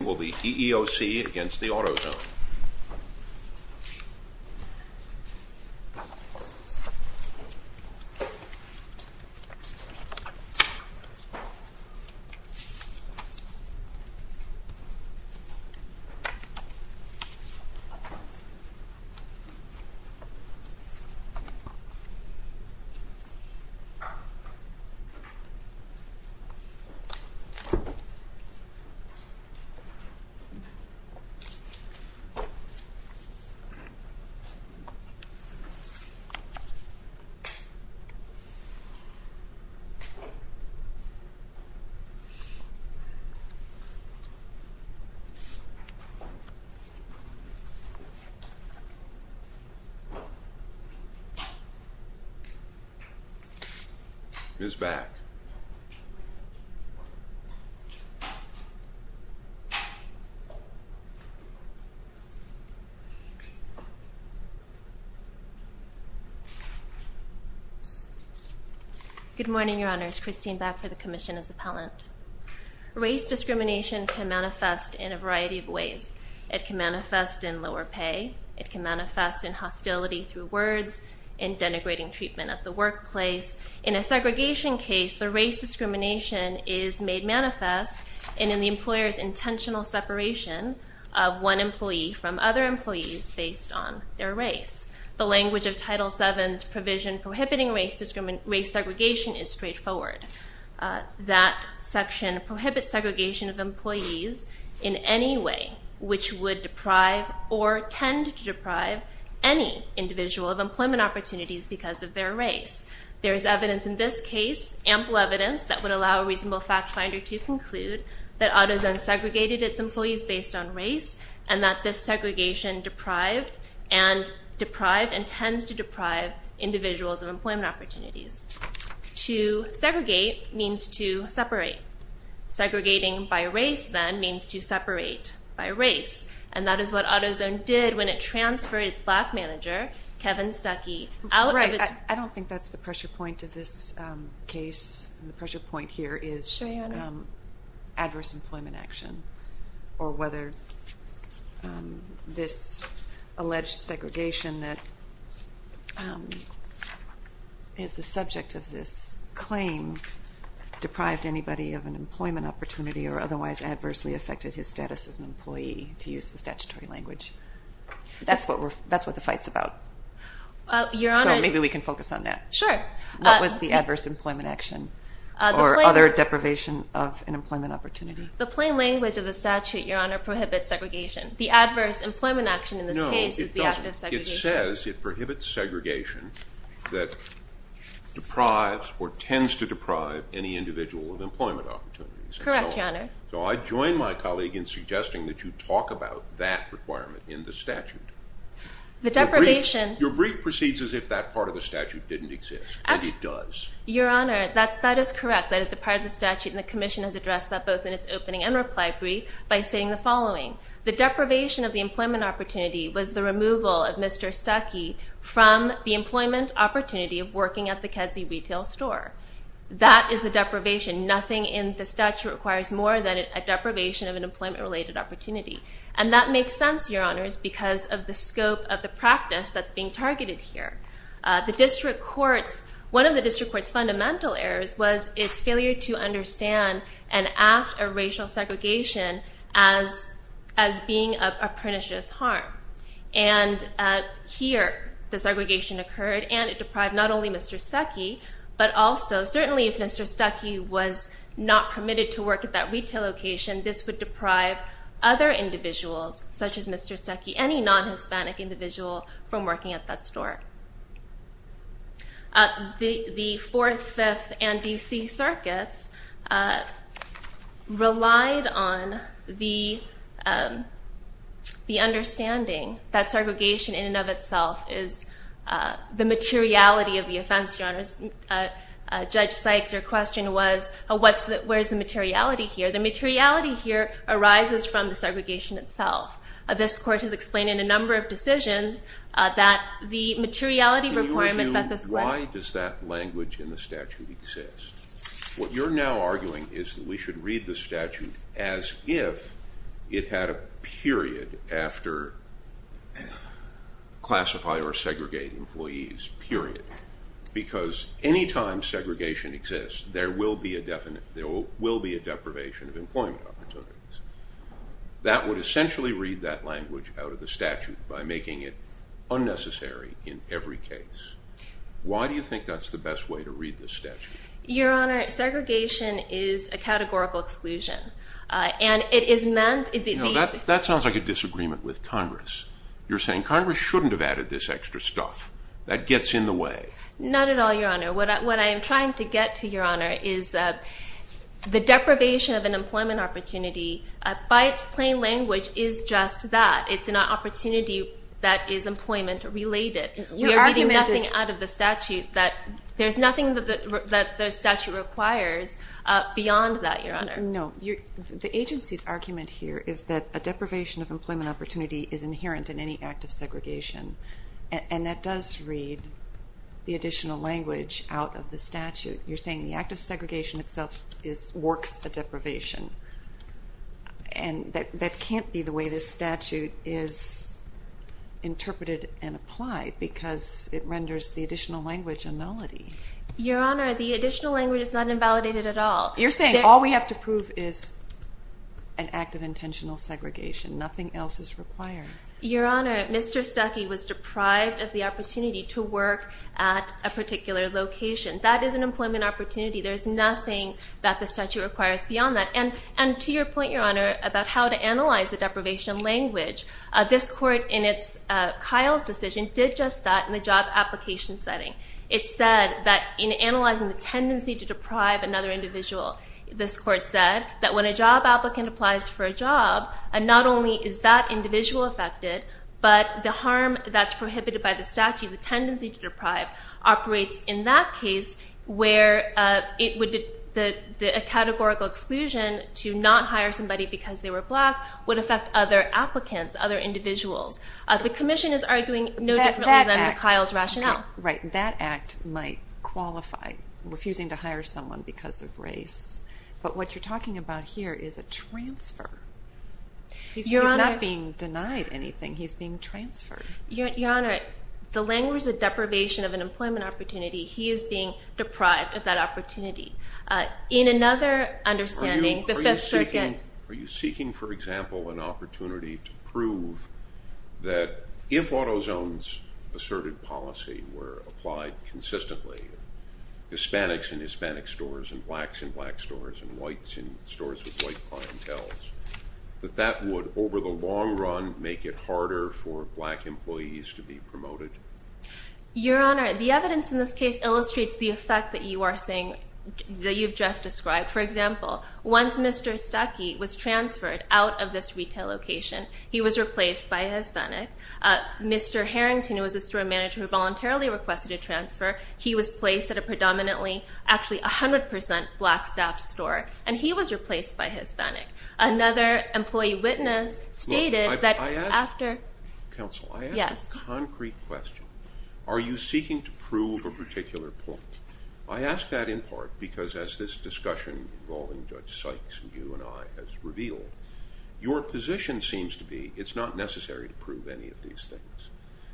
EEOC v. AutoZone EEOC v. AutoZone EEOC v. AutoZone Good morning, Your Honors. Christine Bak for the Commission as Appellant. Race discrimination can manifest in a variety of ways. It can manifest in lower pay. It can manifest in hostility through words, in denigrating treatment at the workplace. In a segregation case, the race discrimination is made manifest in an employer's intentional separation of one employee from other employees based on their race. The language of Title VII's provision prohibiting race segregation is straightforward. That section prohibits segregation of employees in any way which would deprive or tend to deprive any individual of employment opportunities because of their race. There is evidence in this case, ample evidence, that would allow a reasonable fact-finder to conclude that AutoZone segregated its employees based on race and that this segregation deprived and tends to deprive individuals of employment opportunities. To segregate means to separate. Segregating by race, then, means to separate by race. And that is what AutoZone did when it transferred its black manager, Kevin Stuckey, out of its... I don't think that's the pressure point of this case. The pressure point here is adverse employment action or whether this alleged segregation that is the subject of this claim deprived anybody of an employment opportunity or otherwise adversely affected his status as an employee, to use the statutory language. That's what the fight's about. Your Honor... So maybe we can focus on that. Sure. What was the adverse employment action or other deprivation of an employment opportunity? The plain language of the statute, Your Honor, prohibits segregation. The adverse employment action in this case is the act of segregation. No, it doesn't. It says it prohibits segregation that deprives or tends to deprive any individual of employment opportunities. Correct, Your Honor. So I join my colleague in suggesting that you talk about that requirement in the statute. The deprivation... Your brief proceeds as if that part of the statute didn't exist, and it does. Your Honor, that is correct. That is a part of the statute, and the Commission has addressed that both in its opening and reply brief by stating the following. The deprivation of the employment opportunity was the removal of Mr. Stuckey from the employment opportunity of working at the Kedzie retail store. That is the deprivation. Nothing in the statute requires more than a deprivation of an employment-related opportunity. And that makes sense, Your Honors, because of the scope of the practice that's being targeted here. One of the district court's fundamental errors was its failure to understand and act a racial segregation as being a pernicious harm. And here the segregation occurred, and it deprived not only Mr. Stuckey, but also certainly if Mr. Stuckey was not permitted to work at that retail location, this would deprive other individuals, such as Mr. Stuckey, any non-Hispanic individual from working at that store. The Fourth, Fifth, and D.C. Circuits relied on the understanding that segregation in and of itself is the materiality of the offense, Your Honors. Judge Sykes, your question was, where's the materiality here? The materiality here arises from the segregation itself. This Court has explained in a number of decisions that the materiality requirements at this point Why does that language in the statute exist? What you're now arguing is that we should read the statute as if it had a period after classify or segregate employees, period. Because any time segregation exists, there will be a deprivation of employment opportunities. That would essentially read that language out of the statute by making it unnecessary in every case. Why do you think that's the best way to read the statute? Your Honor, segregation is a categorical exclusion. That sounds like a disagreement with Congress. You're saying Congress shouldn't have added this extra stuff. That gets in the way. Not at all, Your Honor. What I am trying to get to, Your Honor, is the deprivation of an employment opportunity, by its plain language, is just that. It's an opportunity that is employment related. Your argument is We are reading nothing out of the statute. There's nothing that the statute requires beyond that, Your Honor. The agency's argument here is that a deprivation of employment opportunity is inherent in any act of segregation, and that does read the additional language out of the statute. You're saying the act of segregation itself works a deprivation, and that can't be the way this statute is interpreted and applied because it renders the additional language a nullity. Your Honor, the additional language is not invalidated at all. You're saying all we have to prove is an act of intentional segregation. Nothing else is required. Your Honor, Mr. Stuckey was deprived of the opportunity to work at a particular location. That is an employment opportunity. There is nothing that the statute requires beyond that. And to your point, Your Honor, about how to analyze the deprivation language, this Court, in Kyle's decision, did just that in the job application setting. It said that in analyzing the tendency to deprive another individual, this Court said that when a job applicant applies for a job, not only is that individual affected, but the harm that's prohibited by the statute, the tendency to deprive, operates in that case where a categorical exclusion to not hire somebody because they were black would affect other applicants, other individuals. The commission is arguing no differently than Kyle's rationale. Right. That act might qualify refusing to hire someone because of race. But what you're talking about here is a transfer. He's not being denied anything. He's being transferred. Your Honor, the language of deprivation of an employment opportunity, he is being deprived of that opportunity. In another understanding, the Fifth Circuit— Are you seeking, for example, an opportunity to prove that if AutoZone's asserted policy were applied consistently, Hispanics in Hispanic stores and blacks in black stores and whites in stores with white clientele, that that would, over the long run, make it harder for black employees to be promoted? Your Honor, the evidence in this case illustrates the effect that you are saying, that you've just described. For example, once Mr. Stuckey was transferred out of this retail location, he was replaced by a Hispanic. Mr. Harrington, who was a store manager who voluntarily requested a transfer, he was placed at a predominantly, actually 100 percent black staff store, and he was replaced by a Hispanic. Another employee witness stated that after— Counsel, I ask a concrete question. Are you seeking to prove a particular point? I ask that in part because as this discussion involving Judge Sykes and you and I has revealed, your position seems to be it's not necessary to prove any of these things.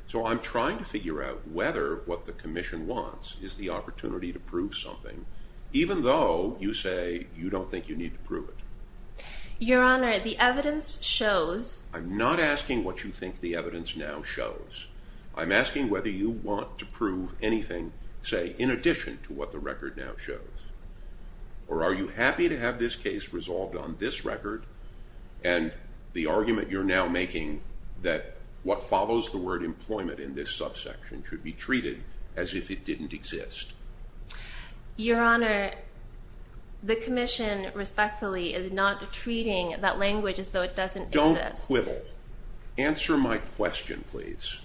So I'm trying to figure out whether what the Commission wants is the opportunity to prove something, even though you say you don't think you need to prove it. Your Honor, the evidence shows— I'm not asking what you think the evidence now shows. I'm asking whether you want to prove anything, say, in addition to what the record now shows. Or are you happy to have this case resolved on this record and the argument you're now making that what follows the word employment in this subsection should be treated as if it didn't exist? Your Honor, the Commission respectfully is not treating that language as though it doesn't exist. Don't quibble. Answer my question, please.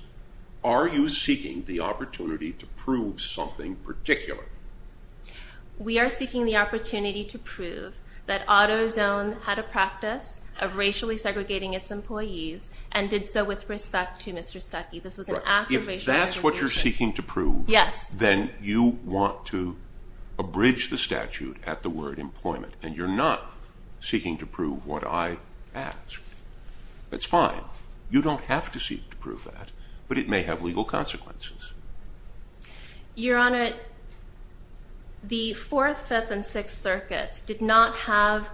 Are you seeking the opportunity to prove something particular? We are seeking the opportunity to prove that AutoZone had a practice of racially segregating its employees and did so with respect to Mr. Stuckey. This was an act of racial segregation. If that's what you're seeking to prove, then you want to abridge the statute at the word employment, and you're not seeking to prove what I asked. That's fine. You don't have to seek to prove that, but it may have legal consequences. Your Honor, the Fourth, Fifth, and Sixth Circuits did not have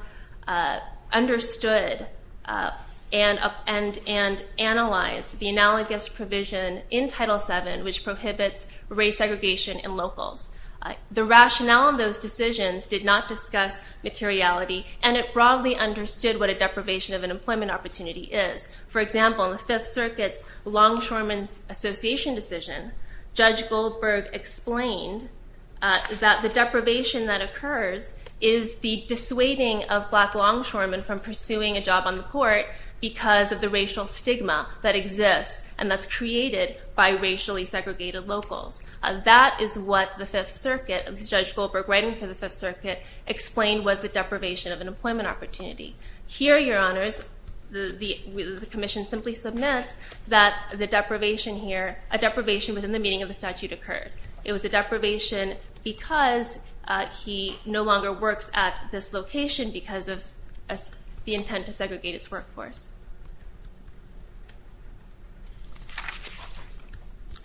understood and analyzed the analogous provision in Title VII which prohibits race segregation in locals. The rationale in those decisions did not discuss materiality, and it broadly understood what a deprivation of an employment opportunity is. For example, in the Fifth Circuit's Longshoremen's Association decision, Judge Goldberg explained that the deprivation that occurs is the dissuading of black longshoremen from pursuing a job on the court because of the racial stigma that exists and that's created by racially segregated locals. That is what the Fifth Circuit, Judge Goldberg writing for the Fifth Circuit, explained was the deprivation of an employment opportunity. Here, Your Honors, the Commission simply submits that the deprivation here, a deprivation within the meaning of the statute occurred. It was a deprivation because he no longer works at this location because of the intent to segregate his workforce.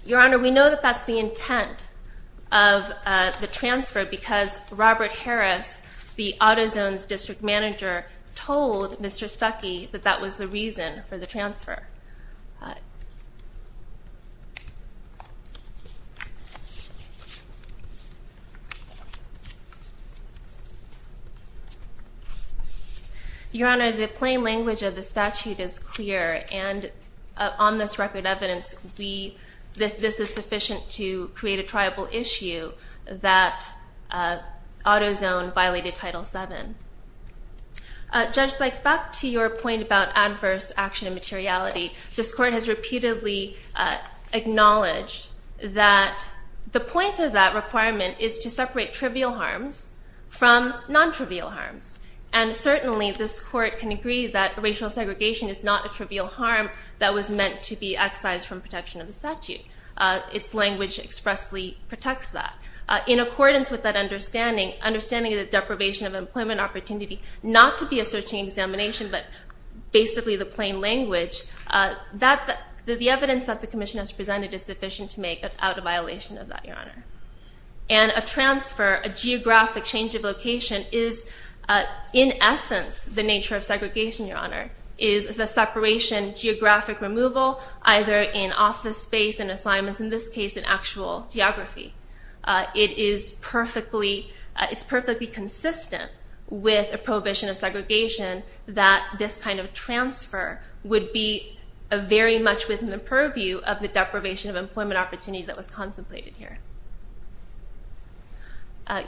Your Honor, we know that that's the intent of the transfer because Robert Harris, the AutoZone's district manager, told Mr. Stuckey that that was the reason for the transfer. Your Honor, the plain language of the statute is clear, and on this record evidence, this is sufficient to create a triable issue that AutoZone violated Title VII. Judge Sykes, back to your point about adverse action and materiality, this court has repeatedly acknowledged that the point of that requirement is to separate trivial harms from non-trivial harms, and certainly this court can agree that racial segregation is not a trivial harm that was meant to be excised from protection of the statute. Its language expressly protects that. In accordance with that understanding, understanding that deprivation of employment opportunity, not to be a searching examination but basically the plain language, the evidence that the Commission has presented is sufficient to make that's out of violation of that, Your Honor. And a transfer, a geographic change of location, is in essence the nature of segregation, Your Honor, is the separation, geographic removal, either in office space, in assignments, in this case in actual geography. It's perfectly consistent with a prohibition of segregation that this kind of transfer would be very much within the purview of the deprivation of employment opportunity that was contemplated here.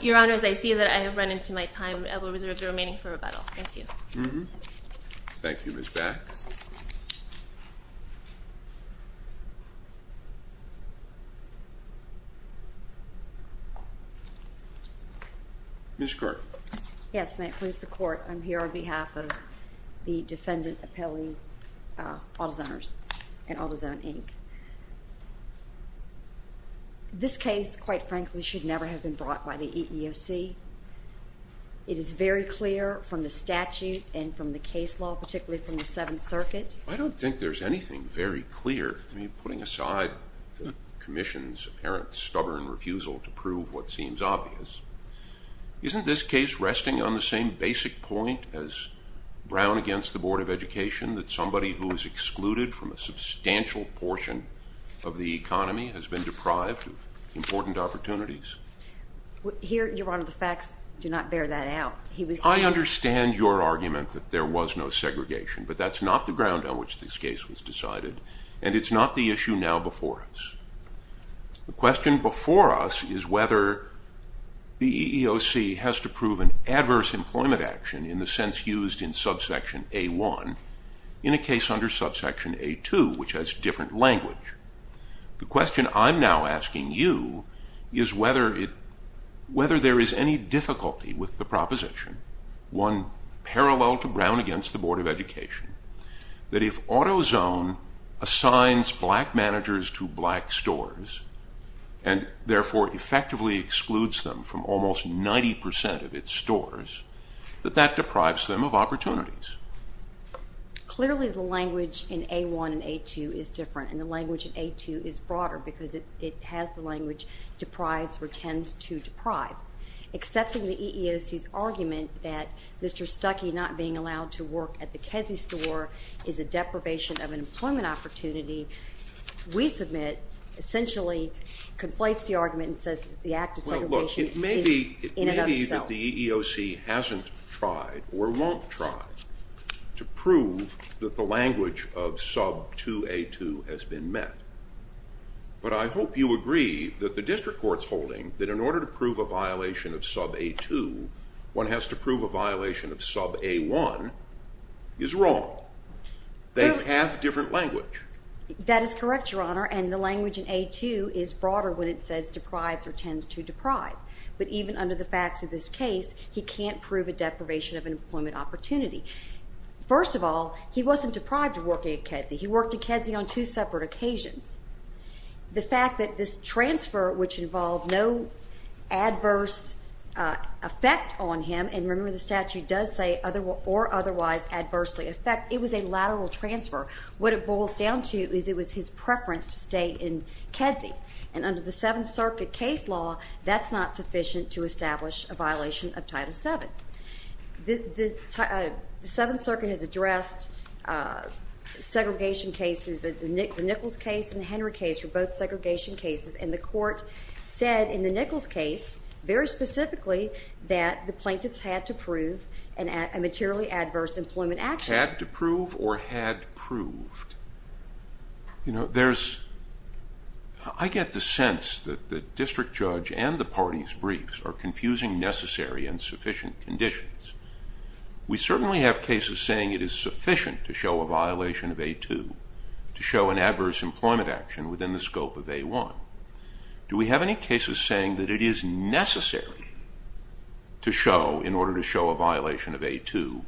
Your Honors, I see that I have run into my time. I will reserve the remaining for rebuttal. Thank you. Thank you, Ms. Back. Ms. Kirk. Yes, and I please the Court. I'm here on behalf of the defendant appellee, AutoZoners and AutoZone, Inc. This case, quite frankly, should never have been brought by the EEOC. It is very clear from the statute and from the case law, particularly from the Seventh Circuit. I don't think there's anything very clear. I mean, putting aside the Commission's apparent stubborn refusal to prove what seems obvious, isn't this case resting on the same basic point as Brown against the Board of Education, that somebody who is excluded from a substantial portion of the economy has been deprived of important opportunities? Your Honor, the facts do not bear that out. I understand your argument that there was no segregation, but that's not the ground on which this case was decided, and it's not the issue now before us. The question before us is whether the EEOC has to prove an adverse employment action in the sense used in Subsection A-1 in a case under Subsection A-2, which has different language. The question I'm now asking you is whether there is any difficulty with the proposition, one parallel to Brown against the Board of Education, that if AutoZone assigns black managers to black stores and therefore effectively excludes them from almost 90 percent of its stores, that that deprives them of opportunities. Clearly the language in A-1 and A-2 is different, and the language in A-2 is broader because it has the language deprives or tends to deprive. Accepting the EEOC's argument that Mr. Stuckey not being allowed to work at the Kedzie store is a deprivation of an employment opportunity, we submit essentially conflates the argument and says the act of segregation in and of itself. Well, look, it may be that the EEOC hasn't tried or won't try to prove that the language of Subsection A-2 has been met, but I hope you agree that the district court's holding that in order to prove a violation of Subsection A-2, one has to prove a violation of Subsection A-1 is wrong. They have different language. That is correct, Your Honor, and the language in A-2 is broader when it says deprives or tends to deprive, but even under the facts of this case, he can't prove a deprivation of an employment opportunity. First of all, he wasn't deprived of working at Kedzie. He worked at Kedzie on two separate occasions. The fact that this transfer, which involved no adverse effect on him, and remember the statute does say or otherwise adversely affect, it was a lateral transfer. What it boils down to is it was his preference to stay in Kedzie, and under the Seventh Circuit case law, that's not sufficient to establish a violation of Title VII. The Seventh Circuit has addressed segregation cases, the Nichols case and the Henry case were both segregation cases, and the court said in the Nichols case, very specifically, that the plaintiffs had to prove a materially adverse employment action. Had to prove or had proved. You know, there's... I get the sense that the district judge and the party's briefs are confusing necessary and sufficient conditions. We certainly have cases saying it is sufficient to show a violation of A-2, to show an adverse employment action within the scope of A-1. Do we have any cases saying that it is necessary to show, in order to show a violation of A-2,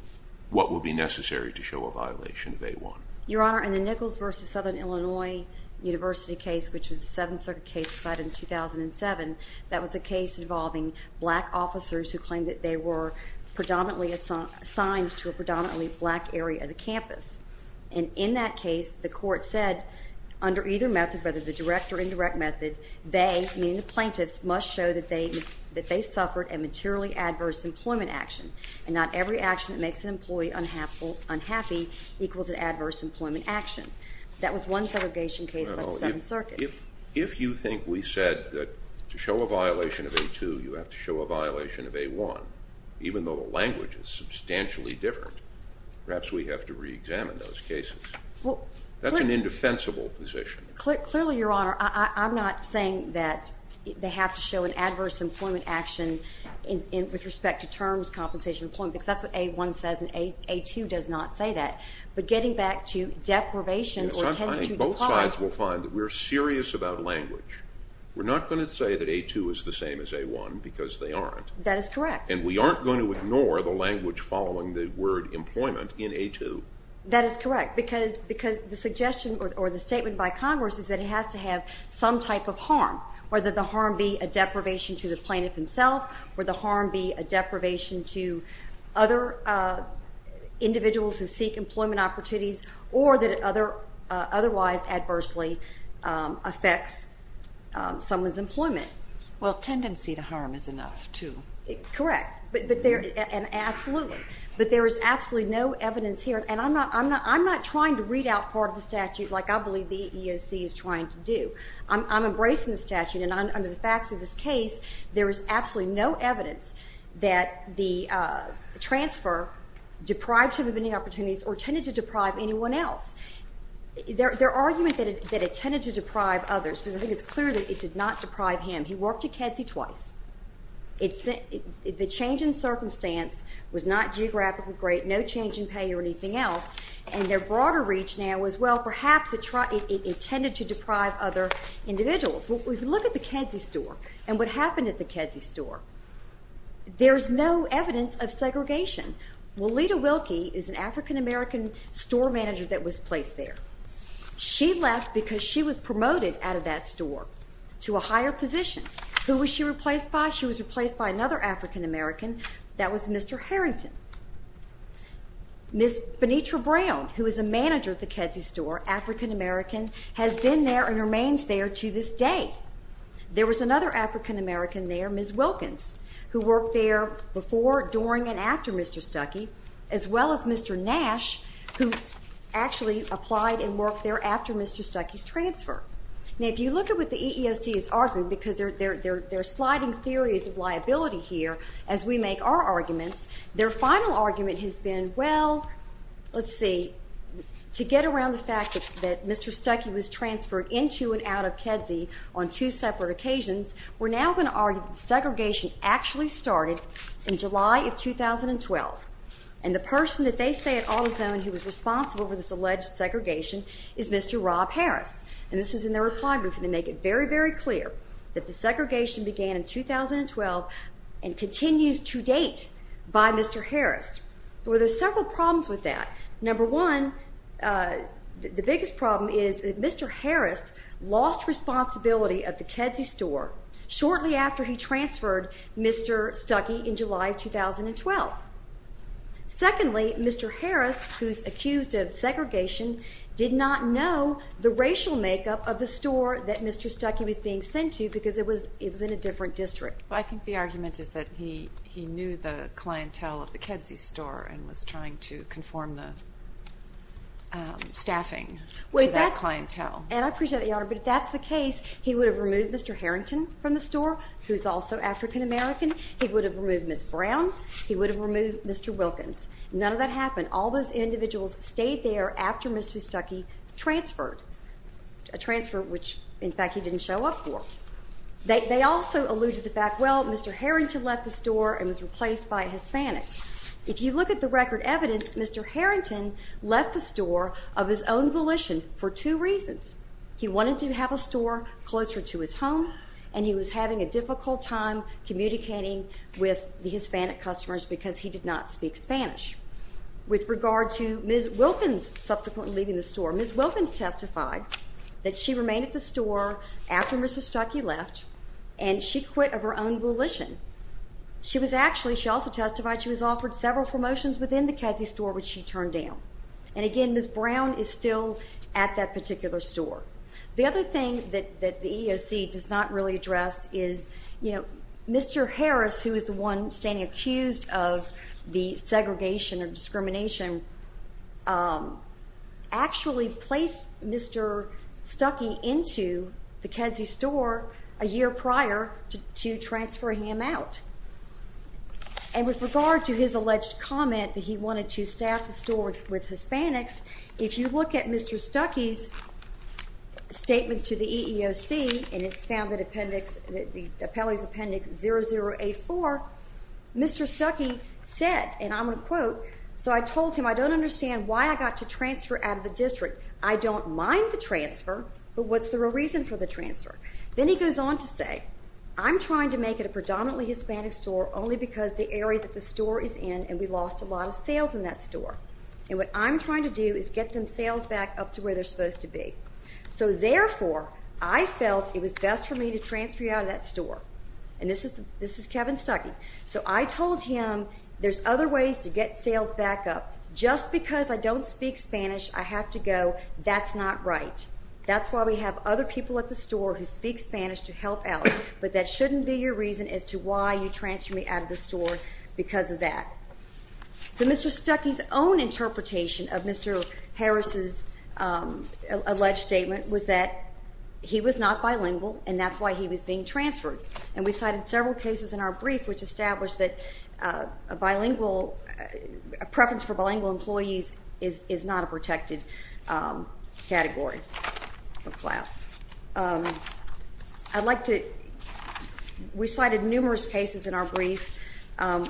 what would be necessary to show a violation of A-1? Your Honor, in the Nichols v. Southern Illinois University case, which was a Seventh Circuit case decided in 2007, that was a case involving black officers to a predominantly black area of the campus. And in that case, the court said, under either method, whether the direct or indirect method, they, meaning the plaintiffs, must show that they suffered a materially adverse employment action. And not every action that makes an employee unhappy equals an adverse employment action. That was one segregation case by the Seventh Circuit. If you think we said that to show a violation of A-2, you have to show a violation of A-1, even though the language is substantially different, perhaps we have to re-examine those cases. That's an indefensible position. Clearly, Your Honor, I'm not saying that they have to show an adverse employment action with respect to terms, compensation, employment, because that's what A-1 says and A-2 does not say that. But getting back to deprivation or tendency to deprive... Both sides will find that we're serious about language. We're not going to say that A-2 is the same as A-1, because they aren't. That is correct. And we aren't going to ignore the language following the word employment in A-2. That is correct, because the suggestion or the statement by Congress is that it has to have some type of harm, whether the harm be a deprivation to the plaintiff himself, whether the harm be a deprivation to other individuals who seek employment opportunities, or that it otherwise adversely affects someone's employment. Well, tendency to harm is enough, too. Correct. And absolutely. But there is absolutely no evidence here, and I'm not trying to read out part of the statute like I believe the EEOC is trying to do. I'm embracing the statute, and under the facts of this case, there is absolutely no evidence that the transfer deprived him of any opportunities or tended to deprive anyone else. Their argument that it tended to deprive others, because I think it's clear that it did not deprive him. He worked at Kedzie twice. The change in circumstance was not geographically great, no change in pay or anything else, and their broader reach now is, well, perhaps it tended to deprive other individuals. Well, if you look at the Kedzie store and what happened at the Kedzie store, there is no evidence of segregation. Well, Leta Wilkie is an African-American store manager that was placed there. She left because she was promoted out of that store to a higher position. Who was she replaced by? She was replaced by another African-American. That was Mr. Harrington. Ms. Benitra Brown, who is a manager at the Kedzie store, African-American, has been there and remains there to this day. There was another African-American there, Ms. Wilkins, who worked there before, during, and after Mr. Stuckey, as well as Mr. Nash, who actually applied and worked there after Mr. Stuckey's transfer. Now, if you look at what the EEOC is arguing, because they're sliding theories of liability here as we make our arguments, their final argument has been, well, let's see, to get around the fact that Mr. Stuckey was transferred into and out of Kedzie on two separate occasions, we're now going to argue that the segregation actually started in July of 2012. And the person that they say at AutoZone who was responsible for this alleged segregation is Mr. Rob Harris. And this is in their reply brief, and they make it very, very clear that the segregation began in 2012 and continues to date by Mr. Harris. There were several problems with that. Number one, the biggest problem is that Mr. Harris lost responsibility at the Kedzie store shortly after he transferred Mr. Stuckey in July of 2012. Secondly, Mr. Harris, who's accused of segregation, did not know the racial makeup of the store that Mr. Stuckey was being sent to because it was in a different district. I think the argument is that he knew the clientele of the Kedzie store and was trying to conform the staffing to that clientele. And I appreciate that, Your Honor, but if that's the case, he would have removed Mr. Harrington from the store, who's also African-American. He would have removed Ms. Brown. He would have removed Mr. Wilkins. None of that happened. All those individuals stayed there after Mr. Stuckey transferred, a transfer which, in fact, he didn't show up for. They also alluded to the fact, well, Mr. Harrington left the store and was replaced by a Hispanic. If you look at the record evidence, Mr. Harrington left the store of his own volition for two reasons. He wanted to have a store closer to his home, and he was having a difficult time communicating with the Hispanic customers because he did not speak Spanish. With regard to Ms. Wilkins subsequently leaving the store, Ms. Wilkins testified that she remained at the store after Mr. Stuckey left, and she quit of her own volition. She also testified she was offered several promotions within the Kedzie store, which she turned down. And again, Ms. Brown is still at that particular store. The other thing that the EEOC does not really address is Mr. Harris, who is the one standing accused of the segregation and discrimination, actually placed Mr. Stuckey into the Kedzie store a year prior to transferring him out. And with regard to his alleged comment that he wanted to staff the store with Hispanics, if you look at Mr. Stuckey's statements to the EEOC, and it's found that Appellee's Appendix 0084, Mr. Stuckey said, and I'm going to quote, so I told him I don't understand why I got to transfer out of the district. I don't mind the transfer, but what's the real reason for the transfer? Then he goes on to say, I'm trying to make it a predominantly Hispanic store only because the area that the store is in and we lost a lot of sales in that store. And what I'm trying to do is get them sales back up to where they're supposed to be. So therefore, I felt it was best for me to transfer you out of that store. And this is Kevin Stuckey. So I told him there's other ways to get sales back up. Just because I don't speak Spanish, I have to go, that's not right. That's why we have other people at the store who speak Spanish to help out, but that shouldn't be your reason as to why you transferred me out of the store because of that. So Mr. Stuckey's own interpretation of Mr. Harris's alleged statement was that he was not bilingual, and that's why he was being transferred. And we cited several cases in our brief which established that a bilingual, a preference for bilingual employees is not a protected category of class. I'd like to, we cited numerous cases in our brief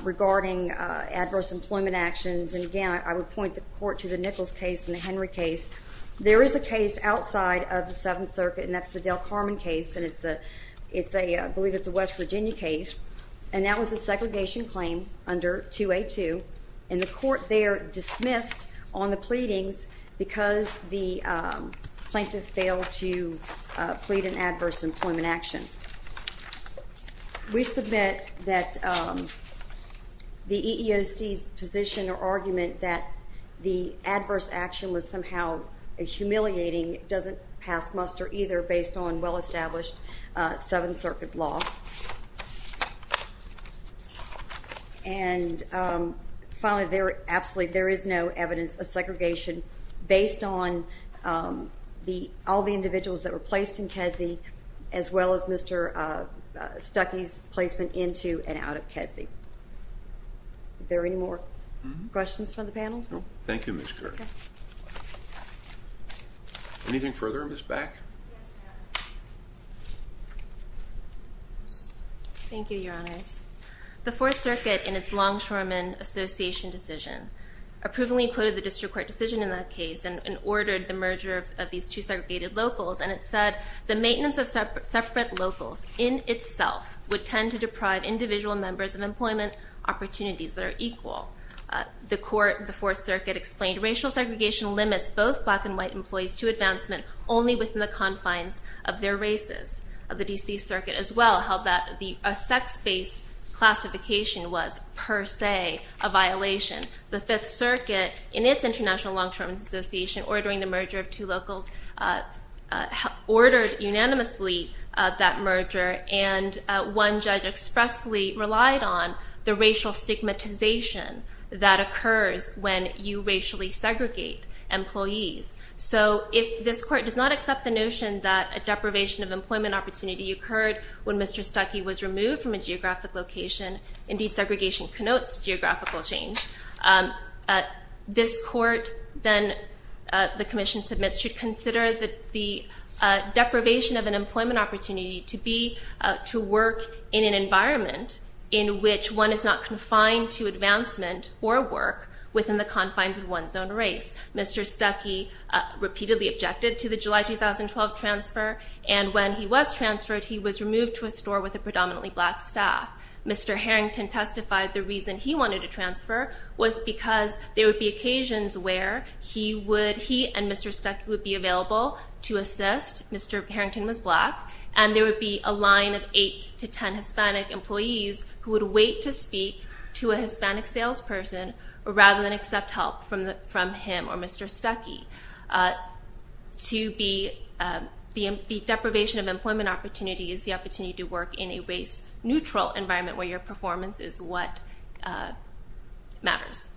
regarding adverse employment actions. And again, I would point the court to the Nichols case and the Henry case. There is a case outside of the Seventh Circuit, and that's the Del Carmen case, and I believe it's a West Virginia case. And that was a segregation claim under 2A2, and the court there dismissed on the pleadings because the plaintiff failed to plead an adverse employment action. We submit that the EEOC's position or argument that the adverse action was somehow humiliating doesn't pass muster either based on well-established Seventh Circuit law. And finally, there is no evidence of segregation based on all the individuals that were placed in Kedzie as well as Mr. Stuckey's placement into and out of Kedzie. Are there any more questions from the panel? Thank you, Ms. Kirk. Anything further, Ms. Beck? Thank you, Your Honors. The Fourth Circuit, in its Longshoremen Association decision, approvingly quoted the district court decision in that case and ordered the merger of these two segregated locals, and it said, the maintenance of separate locals in itself would tend to deprive individual members of employment opportunities that are equal. The court, the Fourth Circuit, explained racial segregation limits both black and white employees to advancement only within the confines of their races. The D.C. Circuit, as well, held that a sex-based classification was per se a violation. The Fifth Circuit, in its International Longshoremen's Association, ordering the merger of two locals, ordered unanimously that merger, and one judge expressly relied on the racial stigmatization that occurs when you racially segregate employees. So if this court does not accept the notion that a deprivation of employment opportunity occurred when Mr. Stuckey was removed from a geographic location, indeed, segregation connotes geographical change, this court, then, the commission submits, should consider the deprivation of an employment opportunity to be to work in an environment in which one is not confined to advancement or work within the confines of one's own race. Mr. Stuckey repeatedly objected to the July 2012 transfer, and when he was transferred, he was removed to a store with a predominantly black staff. Mr. Harrington testified the reason he wanted to transfer was because there would be occasions where he and Mr. Stuckey would be available to assist. Mr. Harrington was black, and there would be a line of 8 to 10 Hispanic employees who would wait to speak to a Hispanic salesperson rather than accept help from him or Mr. Stuckey. The deprivation of employment opportunity is the opportunity to work in a race-neutral environment where your performance is what matters.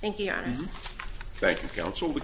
Thank you, Your Honor. Thank you, Counsel.